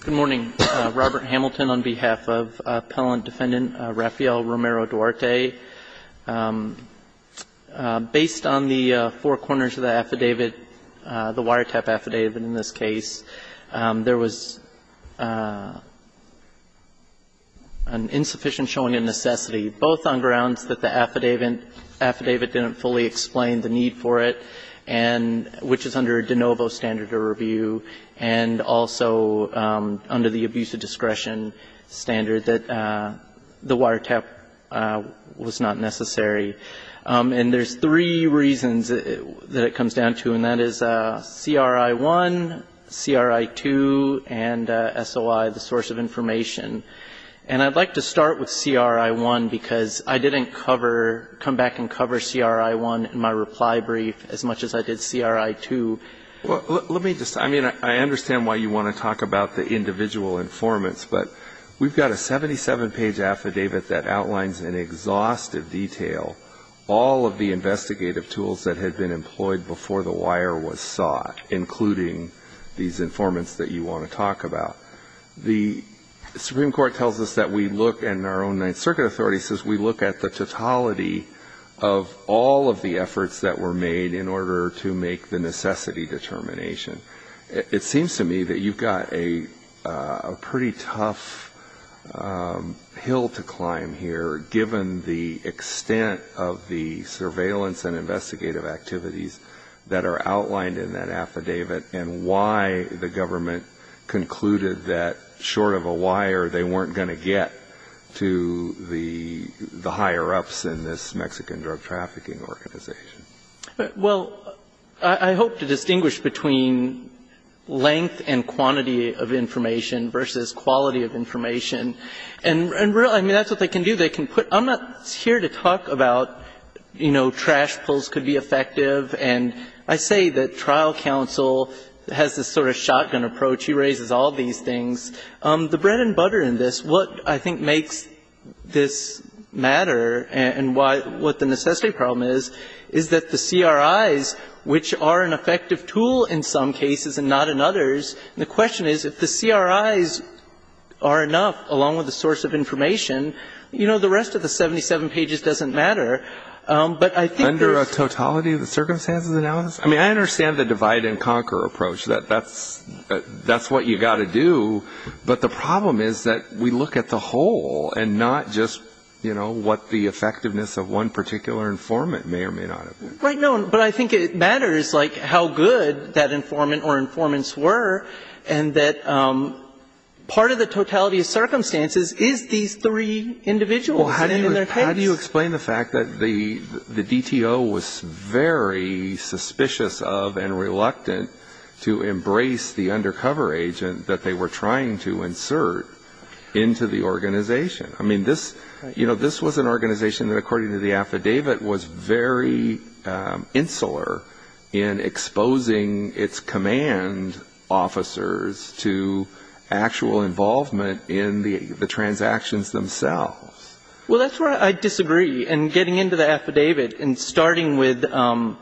Good morning. Robert Hamilton on behalf of Appellant Defendant Rafael Romero-Duarte. Based on the four corners of the affidavit, the wiretap affidavit in this case, there was an insufficient showing of necessity, both on grounds that the affidavit didn't fully explain the need for it, and which is under a de novo standard of review, and also under the abuse of discretion standard that the wiretap was not necessary. And there's three reasons that it comes down to, and that is CRI 1, CRI 2, and SOI, the source of information. And I'd like to start with CRI 1, because I didn't cover, come back and cover CRI 1 in my reply brief as much as I did CRI 2. Let me just, I mean, I understand why you want to talk about the individual informants, but we've got a 77-page affidavit that outlines in exhaustive detail all of the investigative tools that had been employed before the wire was sought, including these informants that you want to talk about. The Supreme Court tells us that we look, and our own Ninth Circuit authority says we look at the totality of all of the efforts that were made in order to make the necessity determination. It seems to me that you've got a pretty tough hill to climb here, given the extent of the surveillance and investigative activities that are outlined in that affidavit and why the government concluded that short of a wire they weren't going to get to the higher-ups in this Mexican drug trafficking organization. Well, I hope to distinguish between length and quantity of information versus quality of information. And really, I mean, that's what they can do. They can put, I'm not here to talk about, you know, trash pulls could be effective. And I say that trial counsel has this sort of shotgun approach. He raises all these things. The bread and butter in this, what I think makes this matter and what the necessity problem is, is that the CRIs, which are an effective tool in some cases and not in others, and the question is if the CRIs are enough along with the source of information, you know, the rest of the 77 pages doesn't matter. Under a totality of circumstances analysis? I mean, I understand the divide and conquer approach, that that's what you've got to do. But the problem is that we look at the whole and not just, you know, what the effectiveness of one particular informant may or may not have been. Right. No, but I think it matters, like, how good that informant or informants were and that part of the totality of circumstances is these three individuals. Well, how do you explain the fact that the DTO was very suspicious of and reluctant to embrace the undercover agent that they were trying to insert into the organization? I mean, this was an organization that, according to the affidavit, was very insular in exposing its command officers to actual involvement in the transactions themselves. Well, that's where I disagree, in getting into the affidavit and starting with CRI-1,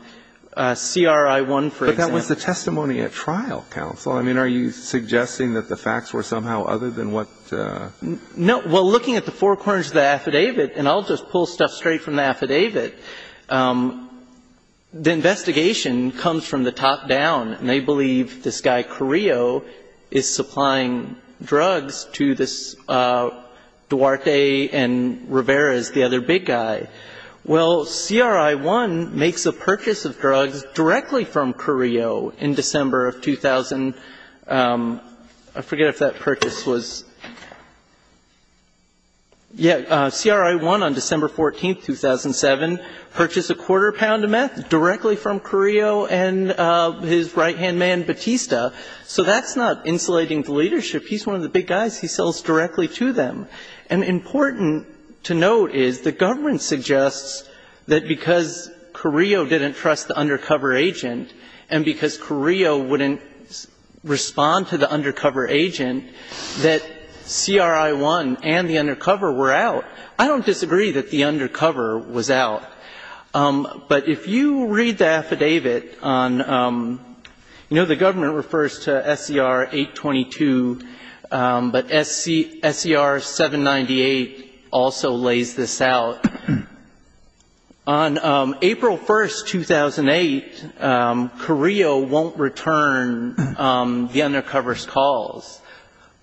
for example. But that was the testimony at trial, counsel. I mean, are you suggesting that the facts were somehow other than what the ---- No. Well, looking at the four corners of the affidavit, and I'll just pull stuff straight from the affidavit, the investigation comes from the top down, and they believe this guy Carrillo is supplying drugs to this Duarte and Rivera is the other big guy. Well, CRI-1 makes a purchase of drugs directly from Carrillo in December of 2000. I forget if that purchase was ---- Yeah, CRI-1 on December 14, 2007 purchased a quarter pound of meth directly from Carrillo and his right-hand man Batista. So that's not insulating the leadership. He's one of the big guys. He sells directly to them. And important to note is the government suggests that because Carrillo didn't trust the undercover agent and because Carrillo wouldn't respond to the undercover agent, that CRI-1 and the undercover were out. I don't disagree that the undercover was out. But if you read the affidavit on ---- you know, the government refers to SCR-822, but SCR-798 also lays this out. On April 1, 2008, Carrillo won't return the undercover's calls.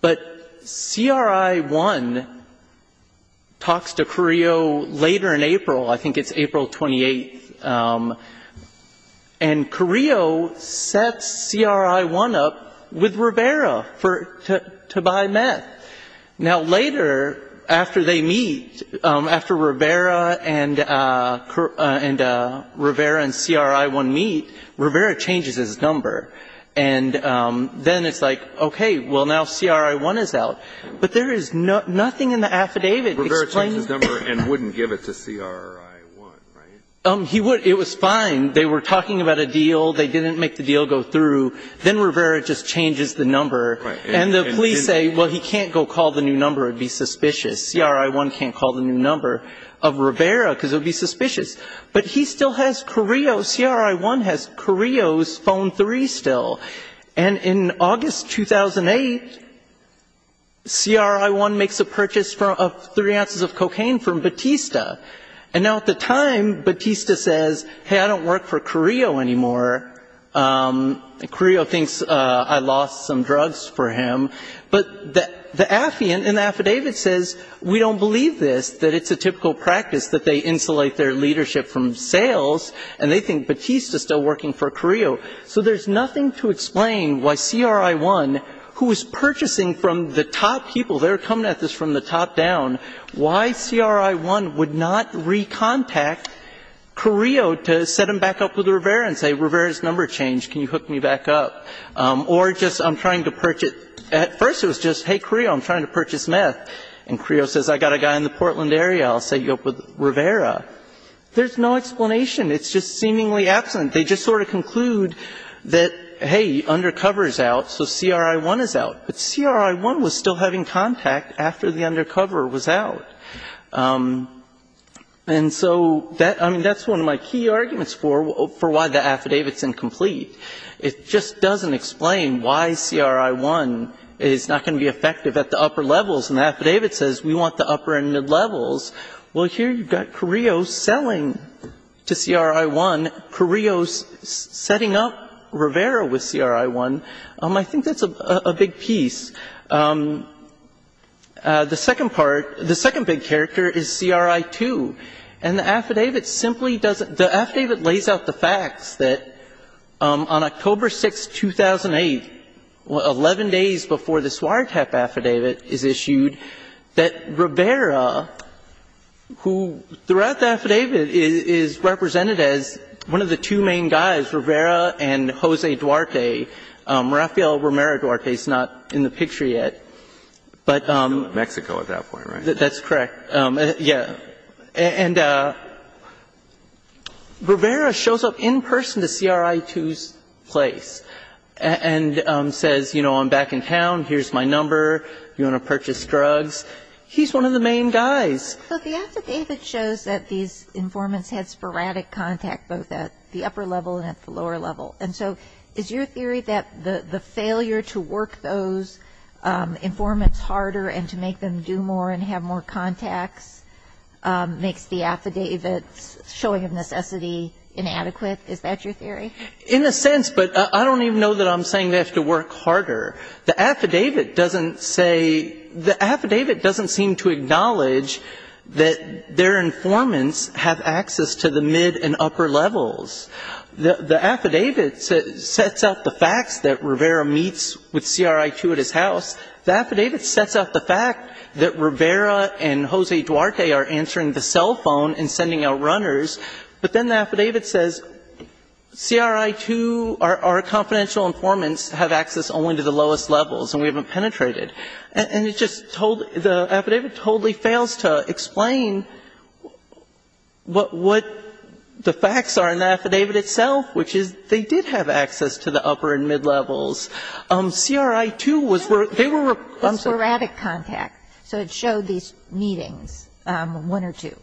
But CRI-1 talks to Carrillo later in April, I think it's April 28, and Carrillo sets CRI-1 up with Rivera to buy meth. Now, later, after they meet, after Rivera and CRI-1 meet, Rivera changes his number. And then it's like, okay, well, now CRI-1 is out. But there is nothing in the affidavit explaining ---- Rivera changed his number and wouldn't give it to CRI-1, right? He would. It was fine. They were talking about a deal. They didn't make the deal go through. Then Rivera just changes the number. Right. And the police say, well, he can't go call the new number. It would be suspicious. CRI-1 can't call the new number of Rivera because it would be suspicious. But he still has Carrillo. CRI-1 has Carrillo's phone 3 still. And in August 2008, CRI-1 makes a purchase of 3 ounces of cocaine from Batista. And now at the time, Batista says, hey, I don't work for Carrillo anymore. Carrillo thinks I lost some drugs for him. But the affidavit says, we don't believe this, that it's a typical practice that they insulate their leadership from sales, and they think Batista is still working for Carrillo. So there's nothing to explain why CRI-1, who is purchasing from the top people ---- they were coming at this from the top down ---- why CRI-1 would not recontact Carrillo to set him back up with Rivera and say, hey, Rivera's number changed. Can you hook me back up? Or just I'm trying to purchase ---- at first it was just, hey, Carrillo, I'm trying to purchase meth. And Carrillo says, I've got a guy in the Portland area. I'll set you up with Rivera. There's no explanation. It's just seemingly absent. They just sort of conclude that, hey, undercover is out, so CRI-1 is out. But CRI-1 was still having contact after the undercover was out. And so that ---- I mean, that's one of my key arguments for why the affidavit's incomplete. It just doesn't explain why CRI-1 is not going to be effective at the upper levels. And the affidavit says we want the upper-ended levels. Well, here you've got Carrillo selling to CRI-1, Carrillo setting up Rivera with CRI-1. I think that's a big piece. The second part ---- the second big character is CRI-2. And the affidavit simply doesn't ---- the affidavit lays out the facts that on October 6, 2008, 11 days before the Suaretep affidavit is issued, that Rivera, who throughout the affidavit is represented as one of the two main guys, Rivera and Jose Duarte. Rafael Romero Duarte is not in the picture yet, but ---- Mexico at that point, right? That's correct. Yeah. And Rivera shows up in person to CRI-2's place and says, you know, I'm back in town, here's my number, do you want to purchase drugs? He's one of the main guys. But the affidavit shows that these informants had sporadic contact both at the upper level and at the lower level. And so is your theory that the failure to work those informants harder and to make them do more and have more contacts makes the affidavit's showing of necessity inadequate? Is that your theory? In a sense, but I don't even know that I'm saying they have to work harder. The affidavit doesn't say ---- the affidavit doesn't seem to acknowledge that their informants have access to the mid and upper levels. The affidavit sets out the facts that Rivera meets with CRI-2 at his house. The affidavit sets out the fact that Rivera and Jose Duarte are answering the cell phone and sending out runners, but then the affidavit says CRI-2, our confidential informants, have access only to the lowest levels and we haven't penetrated. And it just totally ---- the affidavit totally fails to explain what the facts are in the affidavit itself, which is they did have access to the upper and mid levels. CRI-2 was where they were ---- It's sporadic contact. So it showed these meetings, one or two.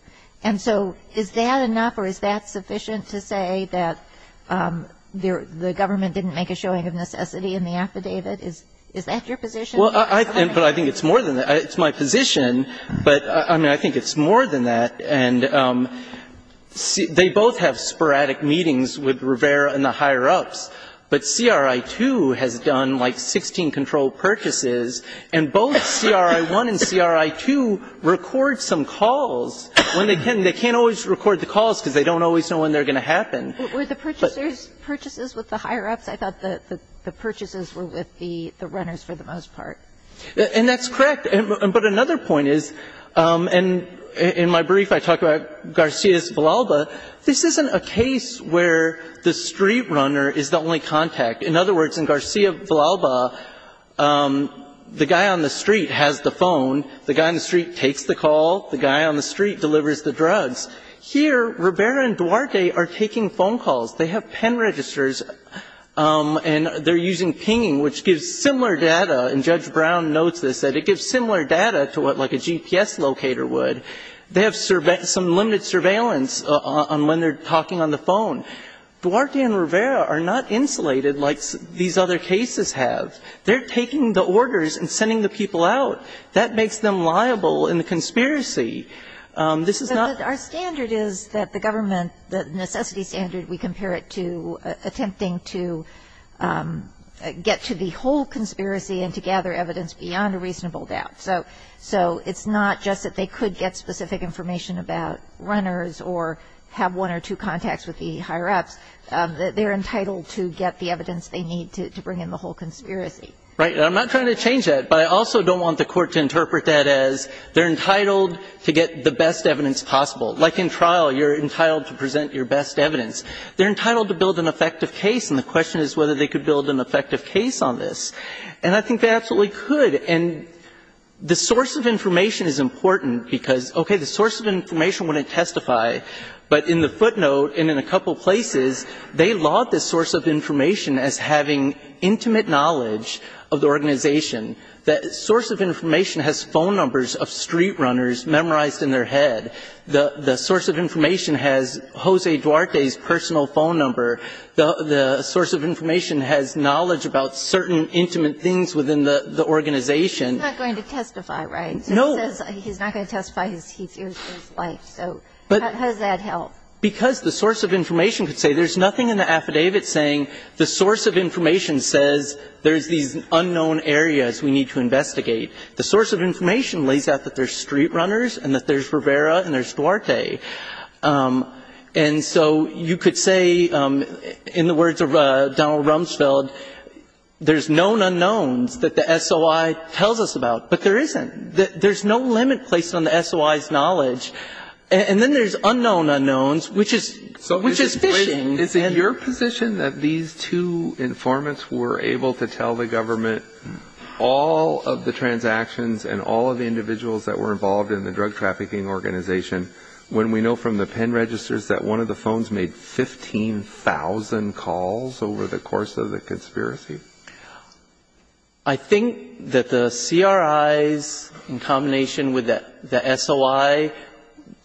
And so is that enough or is that sufficient to say that the government didn't make a showing of necessity in the affidavit? Is that your position? Well, I think it's more than that. It's my position, but I mean, I think it's more than that. And they both have sporadic meetings with Rivera and the higher-ups, but CRI-2 has done like 16 controlled purchases, and both CRI-1 and CRI-2 record some calls when they can. They can't always record the calls because they don't always know when they're going to happen. Were the purchasers' purchases with the higher-ups? I thought the purchases were with the runners for the most part. And that's correct. But another point is, and in my brief I talk about Garcia's Villalba, this isn't a case where the street runner is the only contact. In other words, in Garcia Villalba, the guy on the street has the phone. The guy on the street takes the call. The guy on the street delivers the drugs. Here, Rivera and Duarte are taking phone calls. They have pen registers, and they're using pinging, which gives similar data. And Judge Brown notes this, that it gives similar data to what, like, a GPS locator would. They have some limited surveillance on when they're talking on the phone. Duarte and Rivera are not insulated like these other cases have. They're taking the orders and sending the people out. That makes them liable in the conspiracy. This is not ---- But our standard is that the government, the necessity standard, we compare it to get to the whole conspiracy and to gather evidence beyond a reasonable doubt. So it's not just that they could get specific information about runners or have one or two contacts with the higher-ups. They're entitled to get the evidence they need to bring in the whole conspiracy. Right. And I'm not trying to change that, but I also don't want the Court to interpret that as they're entitled to get the best evidence possible. Like in trial, you're entitled to present your best evidence. They're entitled to build an effective case. And the question is whether they could build an effective case on this. And I think they absolutely could. And the source of information is important because, okay, the source of information wouldn't testify. But in the footnote and in a couple places, they laud this source of information as having intimate knowledge of the organization. The source of information has phone numbers of street runners memorized in their head. The source of information has Jose Duarte's personal phone number. The source of information has knowledge about certain intimate things within the organization. He's not going to testify, right? No. He's not going to testify. He fears his life. So how does that help? Because the source of information could say there's nothing in the affidavit saying the source of information says there's these unknown areas we need to investigate. The source of information lays out that there's street runners and that there's Rivera and there's Duarte. And so you could say in the words of Donald Rumsfeld, there's known unknowns that the SOI tells us about. But there isn't. There's no limit placed on the SOI's knowledge. And then there's unknown unknowns, which is phishing. Is it your position that these two informants were able to tell the government all of the transactions and all of the individuals that were involved in the drug trafficking organization when we know from the PIN registers that one of the phones made 15,000 calls over the course of the conspiracy? I think that the CRIs in combination with the SOI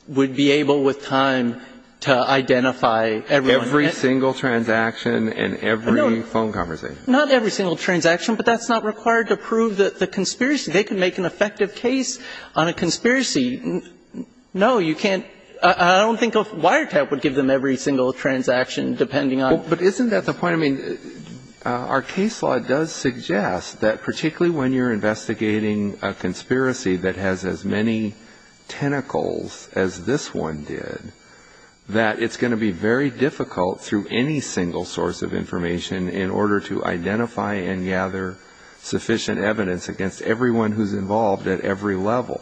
would be able with time to identify everyone. Every single transaction and every phone conversation. Not every single transaction, but that's not required to prove the conspiracy. They could make an effective case on a conspiracy. No, you can't. I don't think Wiretap would give them every single transaction depending on. But isn't that the point? I mean, our case law does suggest that particularly when you're investigating a conspiracy that has as many tentacles as this one did, that it's going to be very sufficient evidence against everyone who's involved at every level.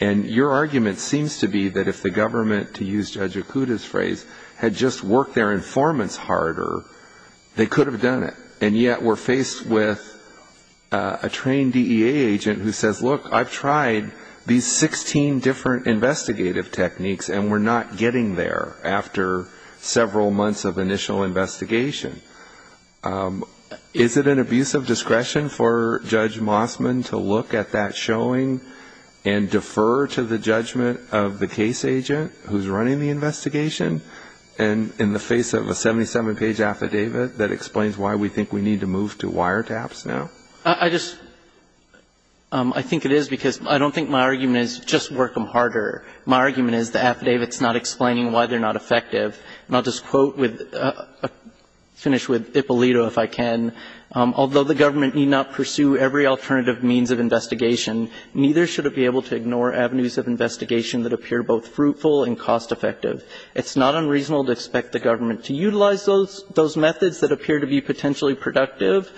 And your argument seems to be that if the government, to use Judge Okuda's phrase, had just worked their informants harder, they could have done it. And yet we're faced with a trained DEA agent who says, look, I've tried these 16 different investigative techniques and we're not getting there after several months of initial investigation. Is it an abuse of discretion for Judge Mossman to look at that showing and defer to the judgment of the case agent who's running the investigation in the face of a 77-page affidavit that explains why we think we need to move to Wiretaps now? I just, I think it is because I don't think my argument is just work them harder. My argument is the affidavit's not explaining why they're not effective. And I'll just quote, finish with Ippolito, if I can. Although the government need not pursue every alternative means of investigation, neither should it be able to ignore avenues of investigation that appear both fruitful and cost effective. It's not unreasonable to expect the government to utilize those methods that appear to be potentially productive.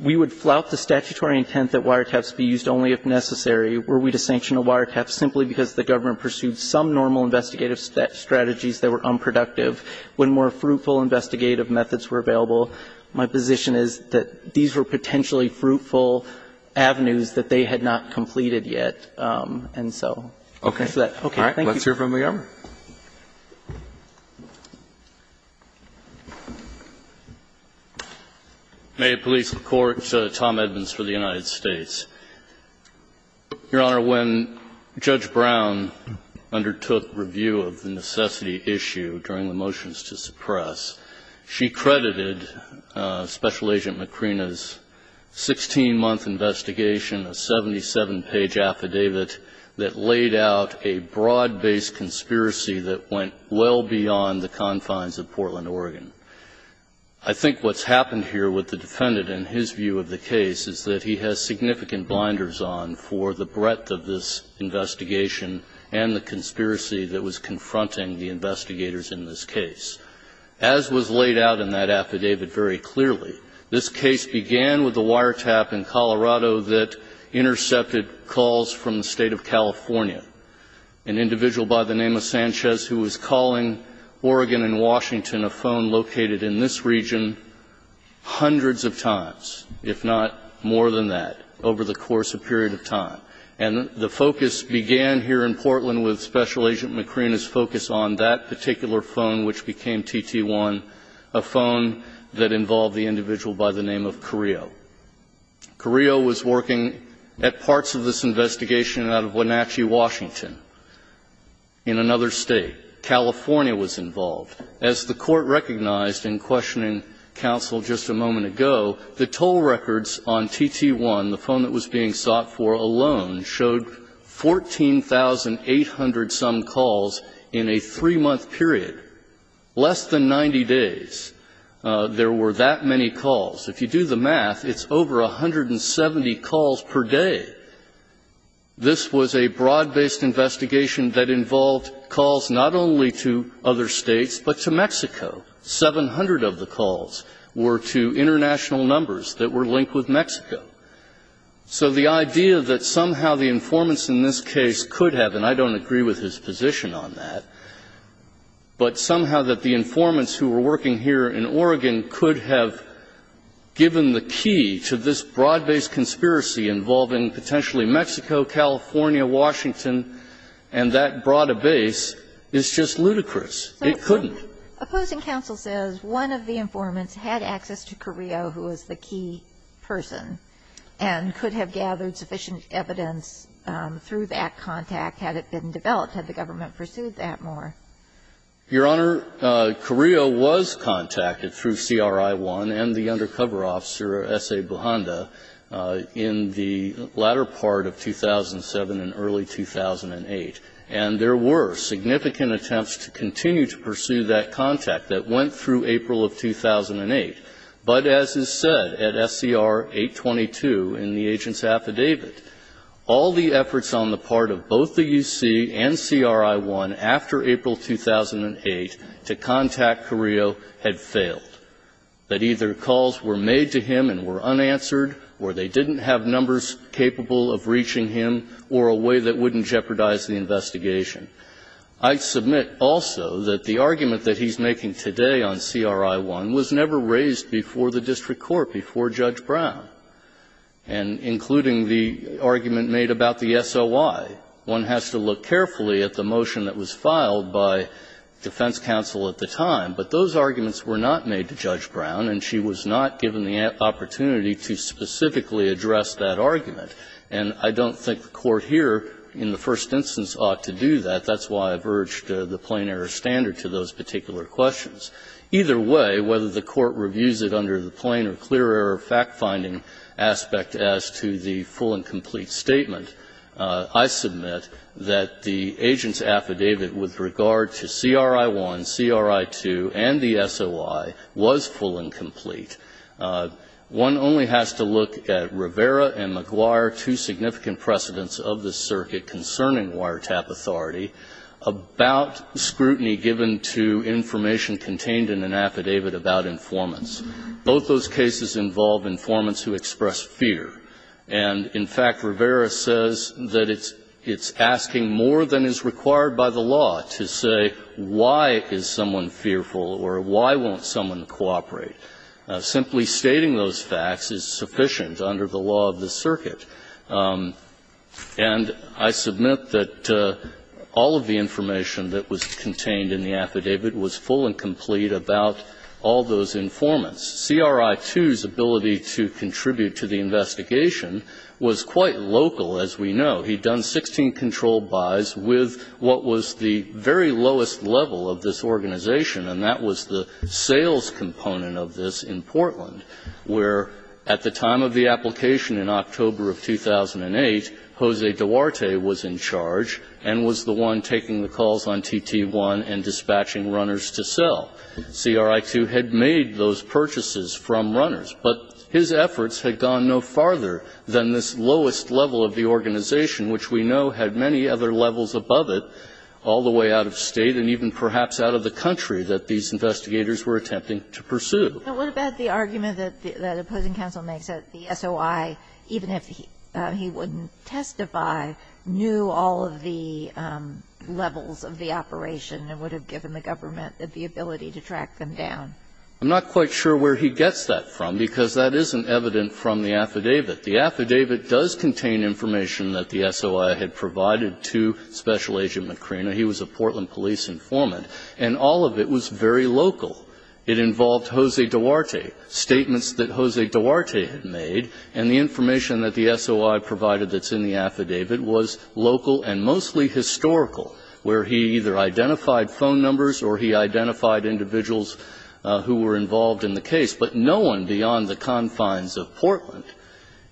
We would flout the statutory intent that Wiretaps be used only if necessary. Were we to sanction a Wiretap simply because the government pursued some normal investigative strategies that were unproductive when more fruitful investigative methods were available, my position is that these were potentially fruitful avenues that they had not completed yet. And so, thanks for that. Okay. All right. Let's hear from the government. May it please the Court, Tom Edmonds for the United States. Your Honor, when Judge Brown undertook review of the necessity issue during the motions to suppress, she credited Special Agent Macrina's 16-month investigation, a 77-page affidavit, that laid out a broad-based conspiracy that went well beyond the confines of Portland, Oregon. I think what's happened here with the defendant in his view of the case is that he has significant blinders on for the breadth of this investigation and the conspiracy that was confronting the investigators in this case. As was laid out in that affidavit very clearly, this case began with a Wiretap in Colorado that intercepted calls from the State of California, an individual by the name of Sanchez who was calling Oregon and Washington, a phone located in this region, hundreds of times, if not more than that, over the course of a period of time. And the focus began here in Portland with Special Agent Macrina's focus on that particular phone which became TT1, a phone that involved the individual by the name of Carrillo. Carrillo was working at parts of this investigation out of Wenatchee, Washington, in another State. California was involved. As the Court recognized in questioning counsel just a moment ago, the toll records on TT1, the phone that was being sought for alone, showed 14,800-some calls in a 3-month period, less than 90 days. There were that many calls. If you do the math, it's over 170 calls per day. This was a broad-based investigation that involved calls not only to other States, but to Mexico. 700 of the calls were to international numbers that were linked with Mexico. So the idea that somehow the informants in this case could have, and I don't agree with his position on that, but somehow that the informants who were working here in Oregon could have given the key to this broad-based conspiracy involving potentially Mexico, California, Washington, and that broad a base, is just ludicrous. It couldn't. Opposing counsel says one of the informants had access to Carrillo, who was the key person, and could have gathered sufficient evidence through that contact had it been developed, had the government pursued that more. Your Honor, Carrillo was contacted through CRI-1 and the undercover officer, S.A. Bujanda, in the latter part of 2007 and early 2008. And there were significant attempts to continue to pursue that contact that went through April of 2008. But as is said at SCR 822 in the agent's affidavit, all the efforts on the part of both the UC and CRI-1 after April 2008 to contact Carrillo had failed. That either calls were made to him and were unanswered, or they didn't have numbers capable of reaching him, or a way that wouldn't jeopardize the investigation. I submit also that the argument that he's making today on CRI-1 was never raised before the district court, before Judge Brown, and including the argument made about the SOI. One has to look carefully at the motion that was filed by defense counsel at the time, but those arguments were not made to Judge Brown, and she was not given the opportunity to specifically address that argument. And I don't think the Court here in the first instance ought to do that. That's why I've urged the plain error standard to those particular questions. Either way, whether the Court reviews it under the plain or clear error fact-finding aspect as to the full and complete statement, I submit that the agent's affidavit with regard to CRI-1, CRI-2, and the SOI was full and complete. One only has to look at Rivera and McGuire, two significant precedents of the circuit concerning wiretap authority, about scrutiny given to information contained in an affidavit about informants. Both those cases involve informants who express fear. And in fact, Rivera says that it's asking more than is required by the law to say why is someone fearful or why won't someone cooperate. Simply stating those facts is sufficient under the law of the circuit. And I submit that all of the information that was contained in the affidavit was full and complete about all those informants. CRI-2's ability to contribute to the investigation was quite local, as we know. He'd done 16 control buys with what was the very lowest level of this organization, and that was the sales component of this in Portland, where at the time of the application in October of 2008, Jose Duarte was in charge and was the one taking the calls on TT-1 and dispatching runners to sell. CRI-2 had made those purchases from runners, but his efforts had gone no farther than this lowest level of the organization, which we know had many other levels above it, all the way out of State and even perhaps out of the country that these investigators were attempting to pursue. But what about the argument that the opposing counsel makes that the SOI, even if he wouldn't testify, knew all of the levels of the operation and would have given the government the ability to track them down? I'm not quite sure where he gets that from, because that isn't evident from the affidavit. The affidavit does contain information that the SOI had provided to Special Agent Macrina. He was a Portland police informant, and all of it was very local. It involved Jose Duarte, statements that Jose Duarte had made, and the information that the SOI provided that's in the affidavit was local and mostly historical, where he either identified phone numbers or he identified individuals who were involved in the case, but no one beyond the confines of Portland.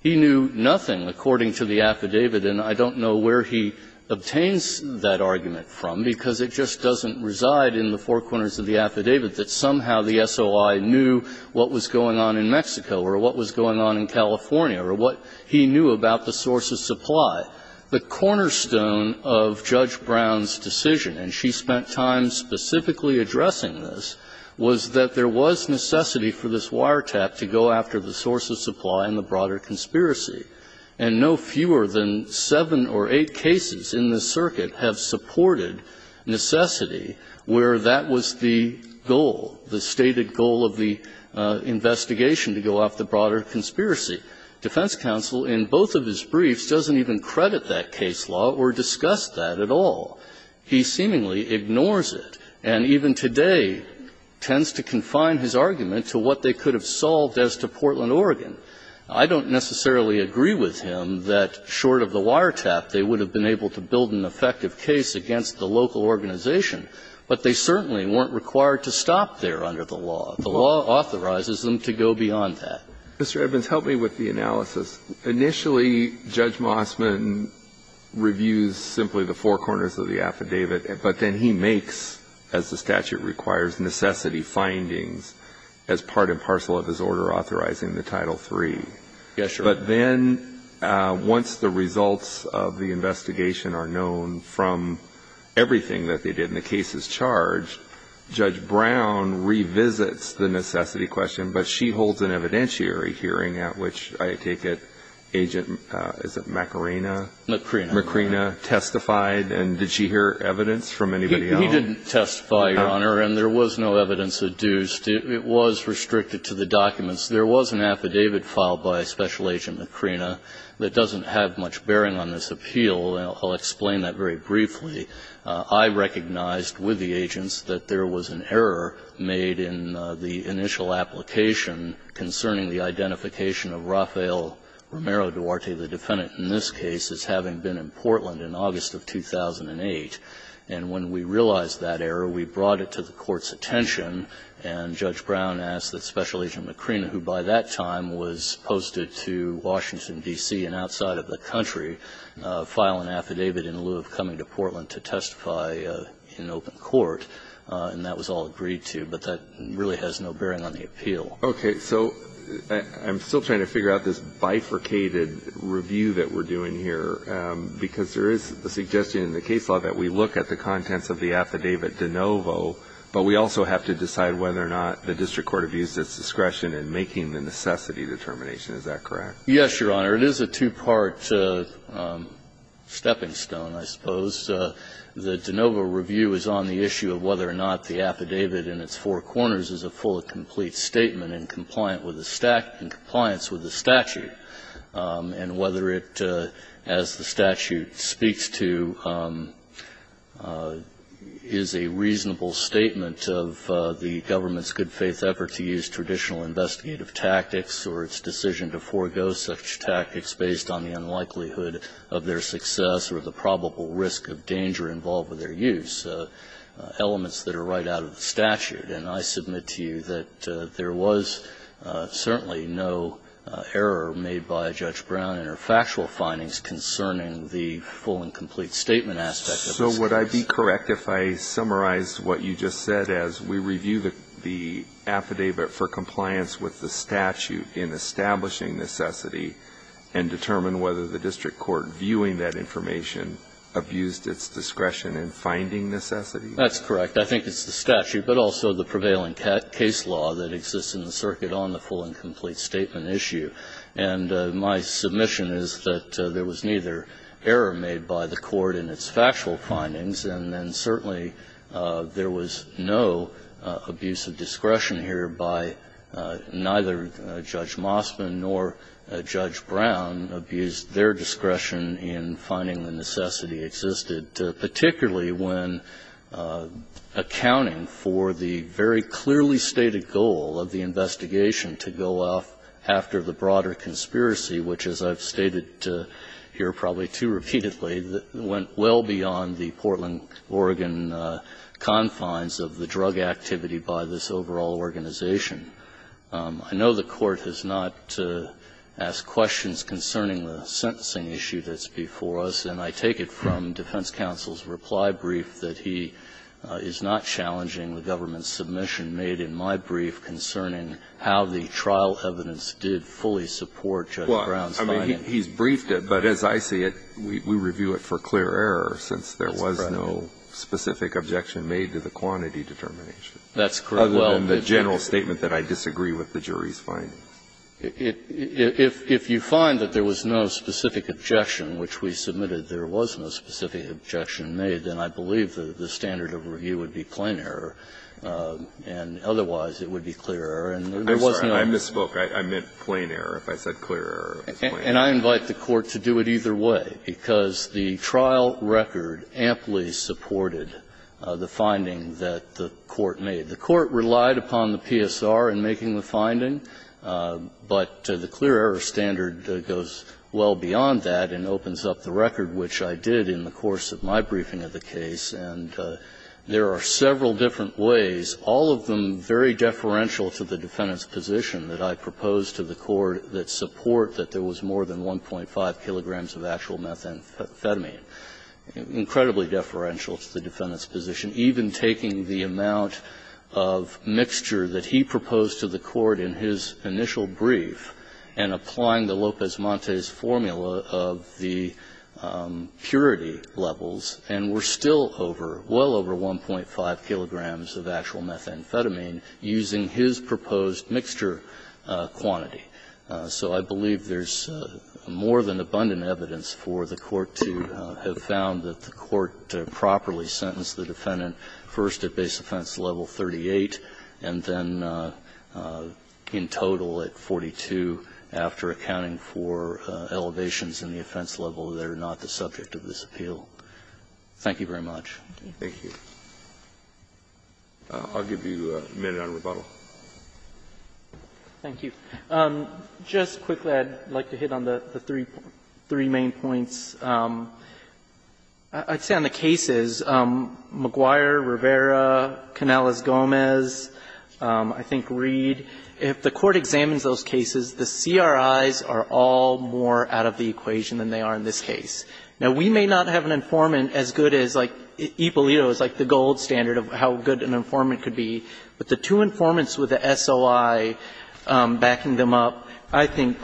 He knew nothing, according to the affidavit, and I don't know where he obtains that argument from, because it just doesn't reside in the four corners of the affidavit that somehow the SOI knew what was going on in Mexico or what was going on in California or what he knew about the source of supply. The cornerstone of Judge Brown's decision, and she spent time specifically addressing this, was that there was necessity for this wiretap to go after the source of supply and the broader conspiracy, and no fewer than seven or eight cases in this circuit have supported necessity where that was the goal, the stated goal of the investigation to go after the broader conspiracy. Defense counsel, in both of his briefs, doesn't even credit that case law or discuss that at all. He seemingly ignores it, and even today tends to confine his argument to what they could have solved as to Portland, Oregon. I don't necessarily agree with him that, short of the wiretap, they would have been able to build an effective case against the local organization, but they certainly weren't required to stop there under the law. The law authorizes them to go beyond that. Mr. Evans, help me with the analysis. Initially, Judge Mossman reviews simply the four corners of the affidavit, but then he makes, as the statute requires, necessity findings as part and parcel of his order authorizing the Title III. Yes, Your Honor. But then once the results of the investigation are known from everything that they did and the case is charged, Judge Brown revisits the necessity question, but she holds an evidentiary hearing at which, I take it, Agent, is it Macarena? Macarena. Macarena testified, and did she hear evidence from anybody else? He didn't testify, Your Honor, and there was no evidence adduced. It was restricted to the documents. There was an affidavit filed by Special Agent Macarena that doesn't have much bearing on this appeal, and I'll explain that very briefly. I recognized with the agents that there was an error made in the initial application concerning the identification of Rafael Romero Duarte, the defendant in this case, as having been in Portland in August of 2008. And when we realized that error, we brought it to the Court's attention, and Judge Brown asked that Special Agent Macarena, who by that time was posted to Washington, D.C. and outside of the country, file an affidavit in lieu of coming to Portland to testify in open court, and that was all agreed to. But that really has no bearing on the appeal. Okay. So I'm still trying to figure out this bifurcated review that we're doing here, because there is a suggestion in the case law that we look at the contents of the affidavit de novo, but we also have to decide whether or not the District Court have used its discretion in making the necessity determination. Is that correct? Yes, Your Honor. It is a two-part stepping stone, I suppose. The de novo review is on the issue of whether or not the affidavit in its four corners is a fully complete statement in compliance with the statute, and whether it, as the statute speaks to, is a reasonable statement of the government's good faith effort to use traditional investigative tactics or its decision to forego such tactics based on the unlikelihood of their success or the probable risk of danger involved with their use, elements that are right out of the statute. And I submit to you that there was certainly no error made by Judge Brown in her factual findings concerning the full and complete statement aspect of this case. Is it correct if I summarize what you just said as we review the affidavit for compliance with the statute in establishing necessity and determine whether the District Court viewing that information abused its discretion in finding necessity? That's correct. I think it's the statute, but also the prevailing case law that exists in the circuit on the full and complete statement issue. And my submission is that there was neither error made by the court in its factual findings, and then certainly there was no abuse of discretion here by neither Judge Mosman nor Judge Brown abused their discretion in finding the necessity existed, particularly when accounting for the very clearly stated goal of the investigation to go off after the broader conspiracy, which, as I've stated here probably too repeatedly, went well beyond the Portland, Oregon confines of the drug activity by this overall organization. I know the Court has not asked questions concerning the sentencing issue that's before us, and I take it from defense counsel's reply brief that he is not challenging the government's submission made in my brief concerning how the trial evidence did fully support Judge Brown's findings. He's briefed it, but as I see it, we review it for clear error since there was no specific objection made to the quantity determination. That's correct. Other than the general statement that I disagree with the jury's findings. If you find that there was no specific objection, which we submitted there was no specific objection made, then I believe the standard of review would be plain error, and otherwise it would be clear error. I'm sorry. I misspoke. I meant plain error. If I said clear error, it's plain error. And I invite the Court to do it either way, because the trial record amply supported the finding that the Court made. The Court relied upon the PSR in making the finding, but the clear error standard goes well beyond that and opens up the record, which I did in the course of my briefing of the case, and there are several different ways, all of them very deferential to the defendant's position that I proposed to the Court that support that there was more than 1.5 kilograms of actual methamphetamine, incredibly deferential to the defendant's position, even taking the amount of mixture that he proposed to the Court in his initial brief and applying the Lopez-Montes formula of the purity levels, and we're still over, well over 1.5 kilograms of actual methamphetamine using his proposed mixture quantity. So I believe there's more than abundant evidence for the Court to have found that the Court properly sentenced the defendant first at base offense level 38 and then in total at 42 after accounting for elevations in the offense level that are not the subject of this appeal. Thank you very much. Thank you. I'll give you a minute on rebuttal. Thank you. Just quickly, I'd like to hit on the three main points. I'd say on the cases, McGuire, Rivera, Canales-Gomez, I think Reed, if the Court examines those cases, the CRIs are all more out of the equation than they are in this case. Now, we may not have an informant as good as, like, Ippolito is like the gold standard of how good an informant could be, but the two informants with the SOI backing them up, I think,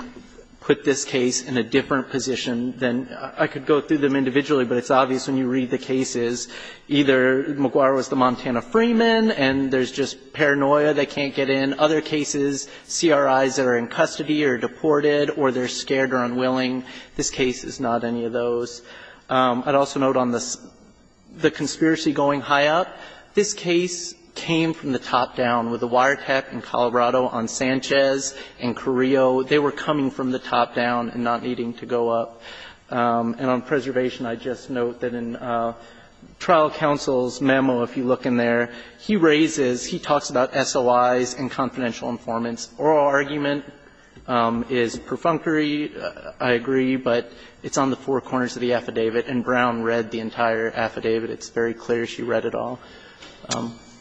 put this case in a different position than, I could go through them individually, but it's obvious when you read the cases, either McGuire was the Montana Freeman and there's just paranoia, they can't get in, other cases, CRIs that are in custody or deported or they're scared or unwilling. This case is not any of those. I'd also note on the conspiracy going high up. This case came from the top down with the wiretap in Colorado on Sanchez and Carrillo. They were coming from the top down and not needing to go up. And on preservation, I'd just note that in trial counsel's memo, if you look in there, he raises, he talks about SOIs and confidential informants. Oral argument is perfunctory. I agree, but it's on the four corners of the affidavit. And Brown read the entire affidavit. It's very clear she read it all.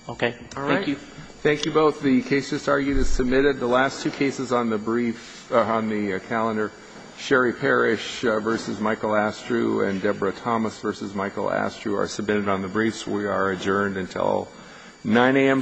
Okay. Thank you. Roberts. Thank you both. The case just argued is submitted. The last two cases on the brief, on the calendar, Sherry Parrish v. Michael Astrew and Deborah Thomas v. Michael Astrew are submitted on the briefs. We are adjourned until 9 a.m. tomorrow morning.